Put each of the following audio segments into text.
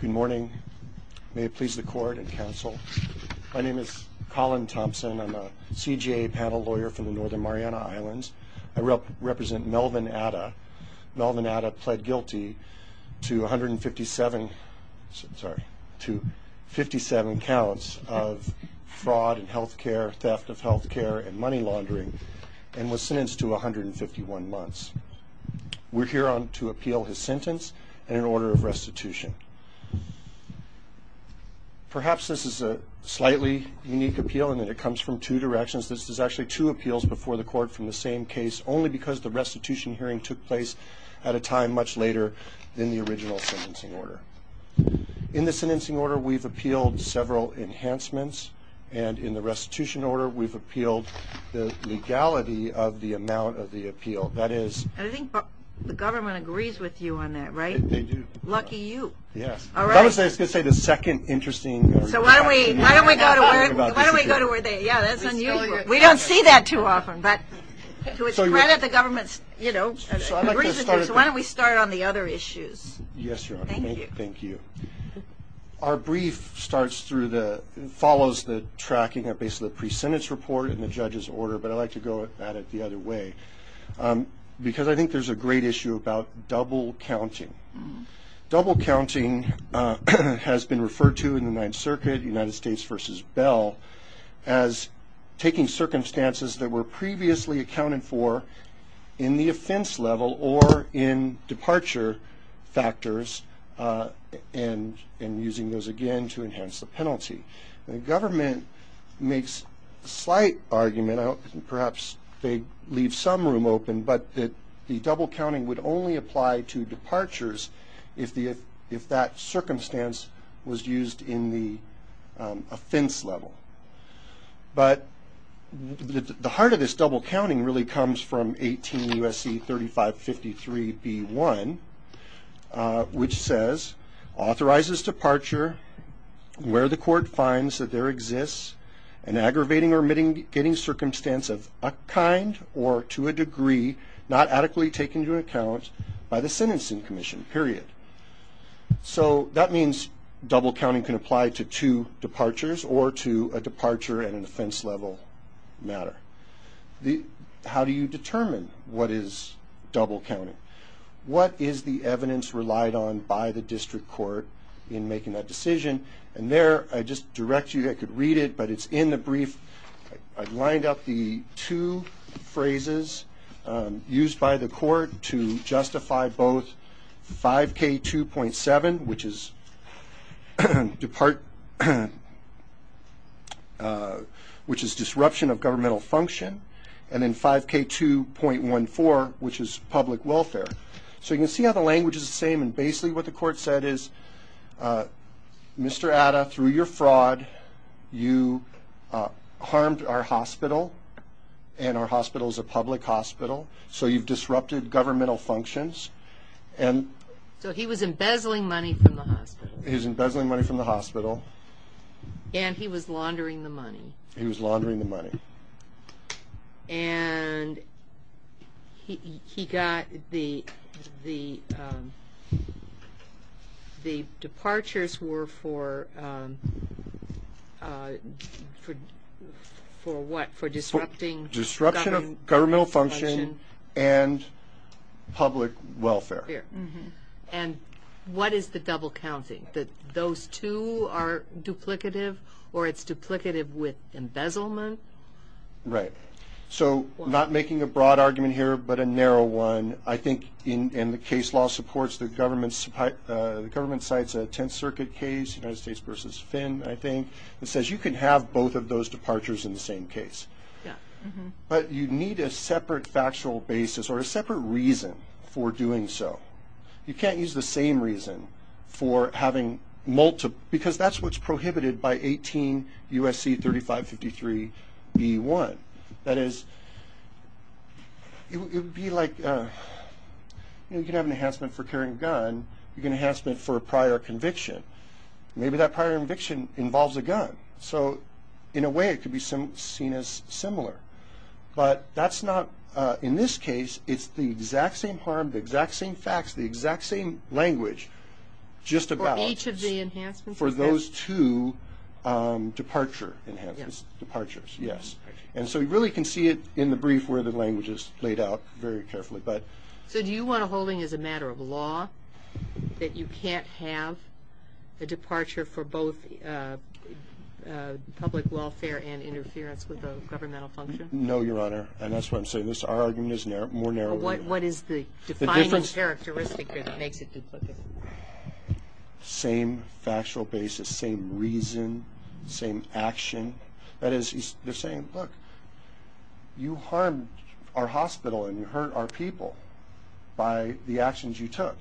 Good morning. May it please the court and counsel. My name is Colin Thompson. I'm a CGA panel lawyer from the Northern Mariana Islands. I represent Melvin Ada. Melvin Ada pled guilty to 157, sorry, to 57 counts of fraud in health care, theft of health care, and money laundering, and was sentenced to 151 months. We're here to appeal his sentence and an order of restitution. Perhaps this is a slightly unique appeal in that it comes from two directions. This is actually two appeals before the court from the same case, only because the restitution hearing took place at a time much later than the original sentencing order. In the sentencing order, we've appealed several enhancements, and in the restitution order, we've appealed the legality of the amount of the appeal. That is... I think the government agrees with you on that, right? They do. Lucky you. Yes. All right. I was going to say the second interesting... So why don't we go to where they... Yeah, that's unusual. We don't see that too often, but to its credit, the government, you know, agrees with you, so why don't we start on the other issues? Yes, Your Honor. Thank you. Thank you. Our brief starts through the... follows the tracking of basically the pre-sentence report and the judge's order, but I'd like to go at it the other way, because I think there's a great issue about double counting. Double counting has been referred to in the Ninth Circuit, United States v. Bell, as taking circumstances that were previously accounted for in the offense level or in departure factors and using those again to enhance the penalty. The government makes a slight argument, perhaps they leave some room open, but that the double counting would only apply to departures if that circumstance was used in the offense level. But the heart of this double counting really comes from 18 U.S.C. 3553 B.1, which says, authorizes departure where the court finds that there exists an aggravating or mitigating circumstance of a kind or to a degree not adequately taken into account by the sentencing commission, period. So that means double counting can apply to two departures or to a departure in an offense level matter. How do you determine what is double counting? What is the evidence relied on by the district court in making that decision? And there, I just direct you, I could read it, but it's in the brief. I've lined up the two phrases used by the court to justify both 5K2.7, which is disruption of governmental function, and then 5K2.14, which is public welfare. So you can see how the language is the same, and basically what the court said is, Mr. Atta, through your fraud, you harmed our hospital, and our hospital is a public hospital, so you've disrupted governmental functions. So he was embezzling money from the hospital. He was embezzling money from the hospital. And he was laundering the money. He was laundering the money. And he got the departures were for what? For disrupting? Disruption of governmental function and public welfare. And what is the double counting? That those two are duplicative, or it's duplicative with embezzlement? Right. So I'm not making a broad argument here, but a narrow one. I think in the case law supports the government's, the government cites a Tenth Circuit case, United States v. Finn, I think, that says you can have both of those departures in the same case. But you need a separate factual basis or a separate reason for doing so. You can't use the same reason for having multiple, because that's what's prohibited by 18 U.S.C. 3553b1. That is, it would be like, you know, you can have an enhancement for carrying a gun. You can have an enhancement for a prior conviction. Maybe that prior conviction involves a gun. So in a way it could be seen as similar. But that's not, in this case, it's the exact same harm, the exact same facts, the exact same language, just about. For each of the enhancements? For those two departure enhancements, departures, yes. And so you really can see it in the brief where the language is laid out very carefully. So do you want a holding as a matter of law that you can't have a departure for both public welfare and interference with a governmental function? No, Your Honor, and that's why I'm saying this. Our argument is more narrow. What is the defining characteristic that makes it duplicative? Same factual basis, same reason, same action. That is, they're saying, look, you harmed our hospital and you hurt our people by the actions you took.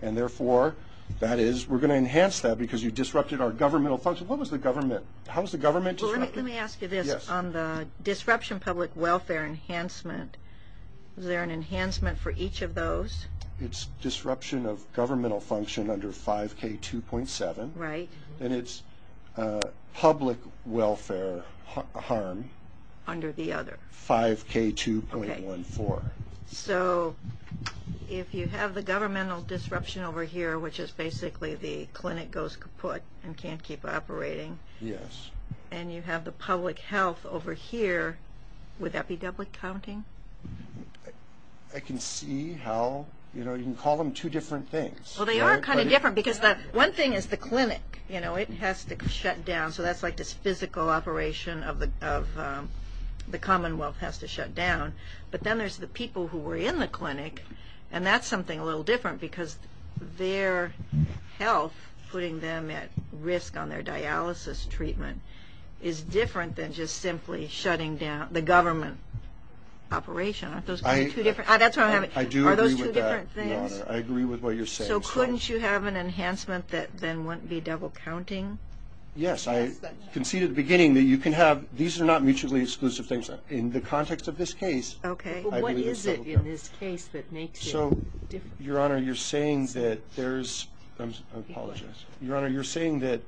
And therefore, that is, we're going to enhance that because you disrupted our governmental function. What was the government, how was the government disrupted? Well, let me ask you this on the disruption public welfare enhancement. Is there an enhancement for each of those? It's disruption of governmental function under 5K2.7. Right. And it's public welfare harm. Under the other. 5K2.14. So if you have the governmental disruption over here, which is basically the clinic goes kaput and can't keep operating. Yes. And you have the public health over here, would that be doubly counting? I can see how, you know, you can call them two different things. Well, they are kind of different because one thing is the clinic, you know, it has to shut down. So that's like this physical operation of the Commonwealth has to shut down. But then there's the people who were in the clinic, and that's something a little different because their health, putting them at risk on their dialysis treatment, is different than just simply shutting down the government operation. Aren't those two different? I do agree with that, Your Honor. Are those two different things? I agree with what you're saying. So couldn't you have an enhancement that then wouldn't be double counting? Yes. I can see at the beginning that you can have these are not mutually exclusive things. In the context of this case, I believe it's double counting. Okay. But what is it in this case that makes it different? So, Your Honor, you're saying that there's – I apologize. Your Honor, you're saying that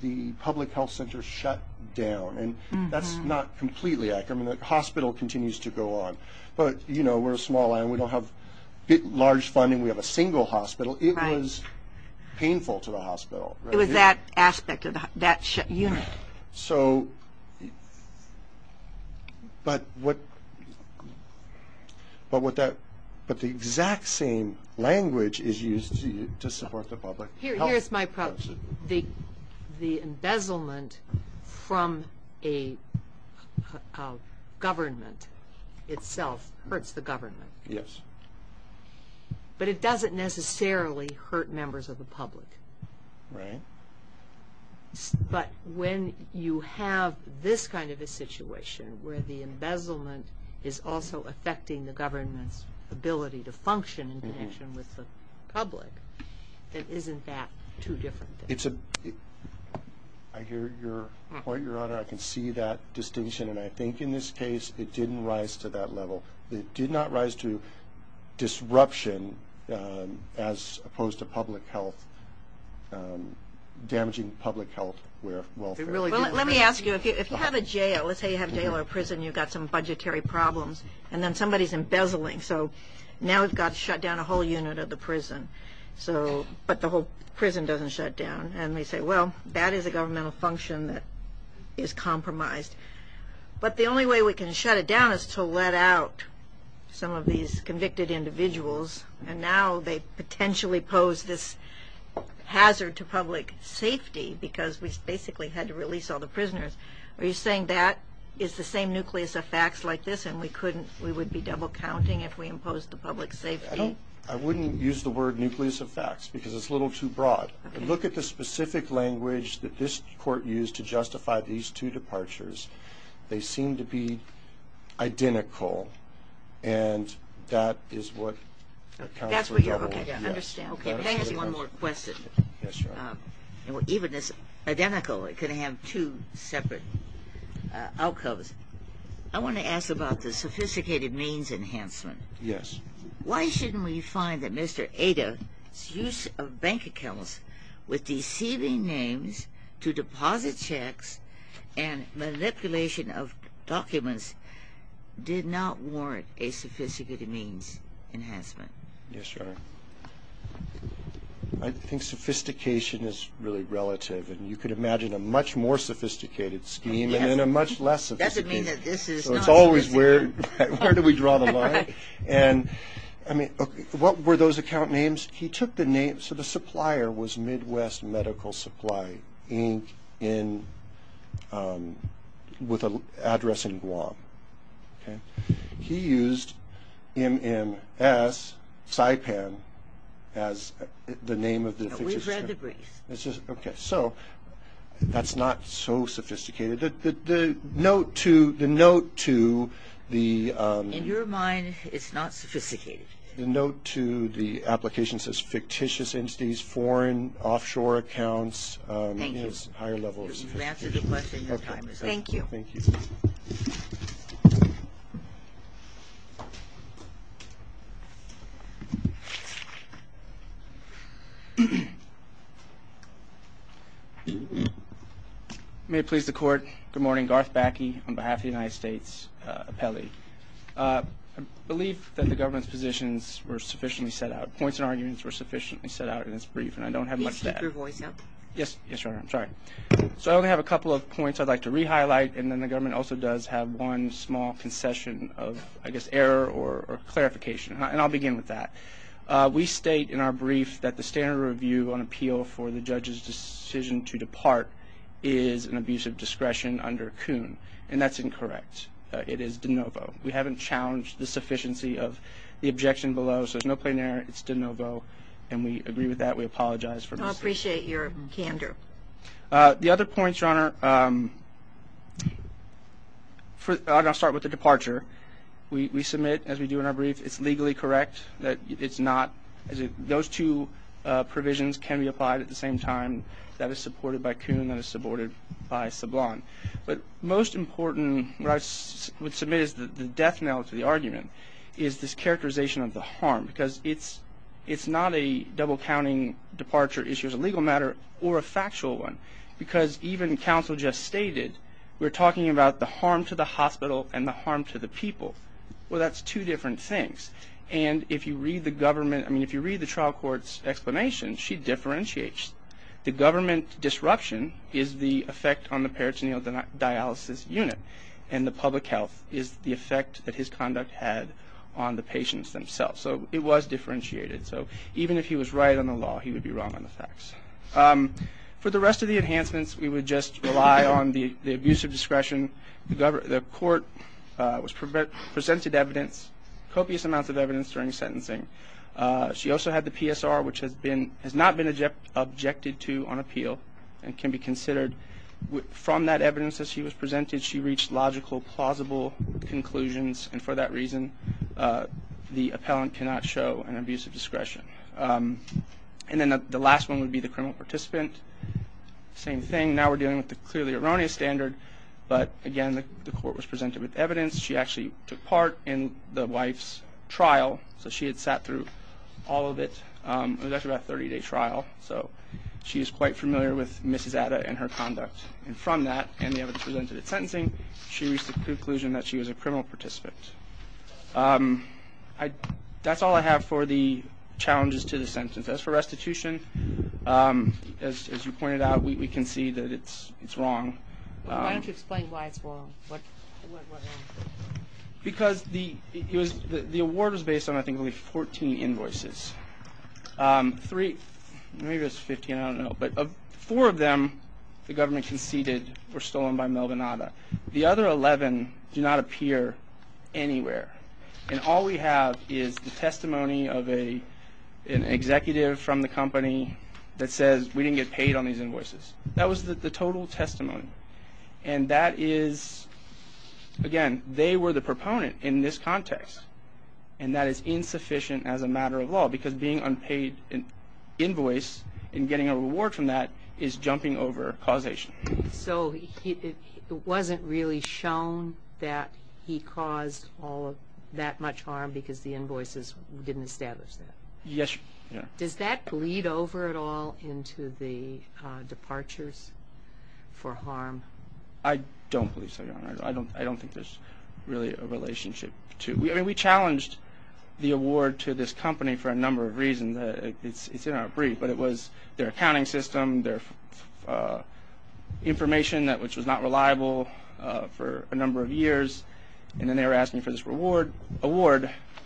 the public health center shut down, and that's not completely accurate. I mean, the hospital continues to go on. But, you know, we're a small island. We don't have large funding. We have a single hospital. It was painful to the hospital. It was that aspect of that unit. So, but what that – but the exact same language is used to support the public health. Here's my problem. The embezzlement from a government itself hurts the government. Yes. But it doesn't necessarily hurt members of the public. Right. But when you have this kind of a situation where the embezzlement is also affecting the government's ability to function in connection with the public, then isn't that two different things? It's a – I hear your point, Your Honor. I can see that distinction, and I think in this case it didn't rise to that level. It did not rise to disruption as opposed to public health – damaging public health welfare. Well, let me ask you. If you have a jail – let's say you have a jail or a prison and you've got some budgetary problems, and then somebody's embezzling, so now we've got to shut down a whole unit of the prison. So – but the whole prison doesn't shut down, and they say, well, that is a governmental function that is compromised. But the only way we can shut it down is to let out some of these convicted individuals, and now they potentially pose this hazard to public safety because we basically had to release all the prisoners. Are you saying that is the same nucleus of facts like this, and we couldn't – we would be double-counting if we imposed the public safety? I don't – I wouldn't use the word nucleus of facts because it's a little too broad. Look at the specific language that this court used to justify these two departures. They seem to be identical, and that is what accounts for double. That's what you're – okay, I understand. Okay, but that has one more question. Yes, Your Honor. Even if it's identical, it could have two separate outcomes. I want to ask about the sophisticated means enhancement. Yes. Why shouldn't we find that Mr. Ada's use of bank accounts with deceiving names to deposit checks and manipulation of documents did not warrant a sophisticated means enhancement? Yes, Your Honor. I think sophistication is really relative, and you could imagine a much more sophisticated scheme and then a much less sophisticated scheme. So it's always where do we draw the line? And, I mean, what were those account names? He took the name – so the supplier was Midwest Medical Supply, Inc., with an address in Guam. He used MMS, Saipan, as the name of the – No, we've read the briefs. Okay. So that's not so sophisticated. The note to the – In your mind, it's not sophisticated. The note to the application says fictitious entities, foreign offshore accounts. Thank you. It's higher levels. You can answer the question. Your time is up. Thank you. Thank you. May it please the Court, good morning. Garth Backe on behalf of the United States Appellee. I believe that the government's positions were sufficiently set out. Points and arguments were sufficiently set out in this brief, and I don't have much to add. Please keep your voice up. Yes, Your Honor. I'm sorry. So I only have a couple of points I'd like to re-highlight, and then the government also does have one small concession of, I guess, error or clarification, and I'll begin with that. We state in our brief that the standard review on appeal for the judge's decision to depart is an abuse of discretion under COON, and that's incorrect. It is de novo. We haven't challenged the sufficiency of the objection below, so there's no plain error. It's de novo, and we agree with that. We apologize for this. I appreciate your candor. The other points, Your Honor, I'll start with the departure. We submit, as we do in our brief, it's legally correct that it's not. Those two provisions can be applied at the same time. That is supported by COON. That is supported by SABLON. But most important, what I would submit as the death knell to the argument is this characterization of the harm because it's not a double-counting departure issue as a legal matter or a factual one because even counsel just stated we're talking about the harm to the hospital and the harm to the people. Well, that's two different things, and if you read the government, I mean, if you read the trial court's explanation, she differentiates. The government disruption is the effect on the peritoneal dialysis unit, and the public health is the effect that his conduct had on the patients themselves. So it was differentiated. So even if he was right on the law, he would be wrong on the facts. For the rest of the enhancements, we would just rely on the abuse of discretion. The court presented evidence, copious amounts of evidence during sentencing. She also had the PSR, which has not been objected to on appeal and can be considered. From that evidence that she was presented, she reached logical, plausible conclusions, and for that reason, the appellant cannot show an abuse of discretion. And then the last one would be the criminal participant. Same thing. Now we're dealing with the clearly erroneous standard, but again, the court was presented with evidence. She actually took part in the wife's trial, so she had sat through all of it. It was actually about a 30-day trial, so she is quite familiar with Mrs. Atta and her conduct. And from that and the evidence presented at sentencing, she reached the conclusion that she was a criminal participant. That's all I have for the challenges to the sentence. As for restitution, as you pointed out, we can see that it's wrong. Why don't you explain why it's wrong? Because the award was based on, I think, only 14 invoices. Maybe it was 15, I don't know. But of four of them, the government conceded were stolen by Melvin Atta. The other 11 do not appear anywhere. And all we have is the testimony of an executive from the company that says, we didn't get paid on these invoices. That was the total testimony. And that is, again, they were the proponent in this context, and that is insufficient as a matter of law, because being unpaid in invoice and getting a reward from that is jumping over causation. So it wasn't really shown that he caused all of that much harm because the invoices didn't establish that? Yes. Does that bleed over at all into the departures for harm? I don't believe so, Your Honor. I don't think there's really a relationship. I mean, we challenged the award to this company for a number of reasons. It's in our brief, but it was their accounting system, their information which was not reliable for a number of years, and then they were asking for this reward.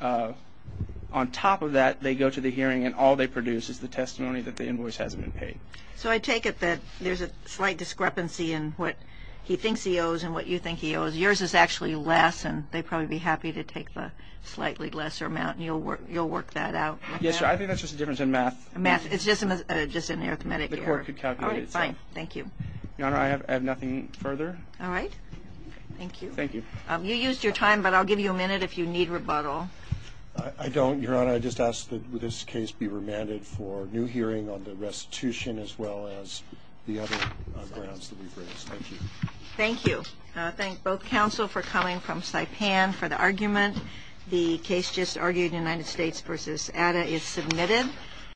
On top of that, they go to the hearing, and all they produce is the testimony that the invoice hasn't been paid. So I take it that there's a slight discrepancy in what he thinks he owes and what you think he owes. Yours is actually less, and they'd probably be happy to take the slightly lesser amount, and you'll work that out? Yes, Your Honor. I think that's just a difference in math. Math. It's just an arithmetic error. The court could calculate itself. All right. Fine. Thank you. Your Honor, I have nothing further. All right. Thank you. Thank you. You used your time, but I'll give you a minute if you need rebuttal. I don't, Your Honor. Your Honor, I just ask that this case be remanded for new hearing on the restitution as well as the other grounds that we've raised. Thank you. Thank you. I thank both counsel for coming from Saipan for the argument. The case just argued, United States v. Atta, is submitted.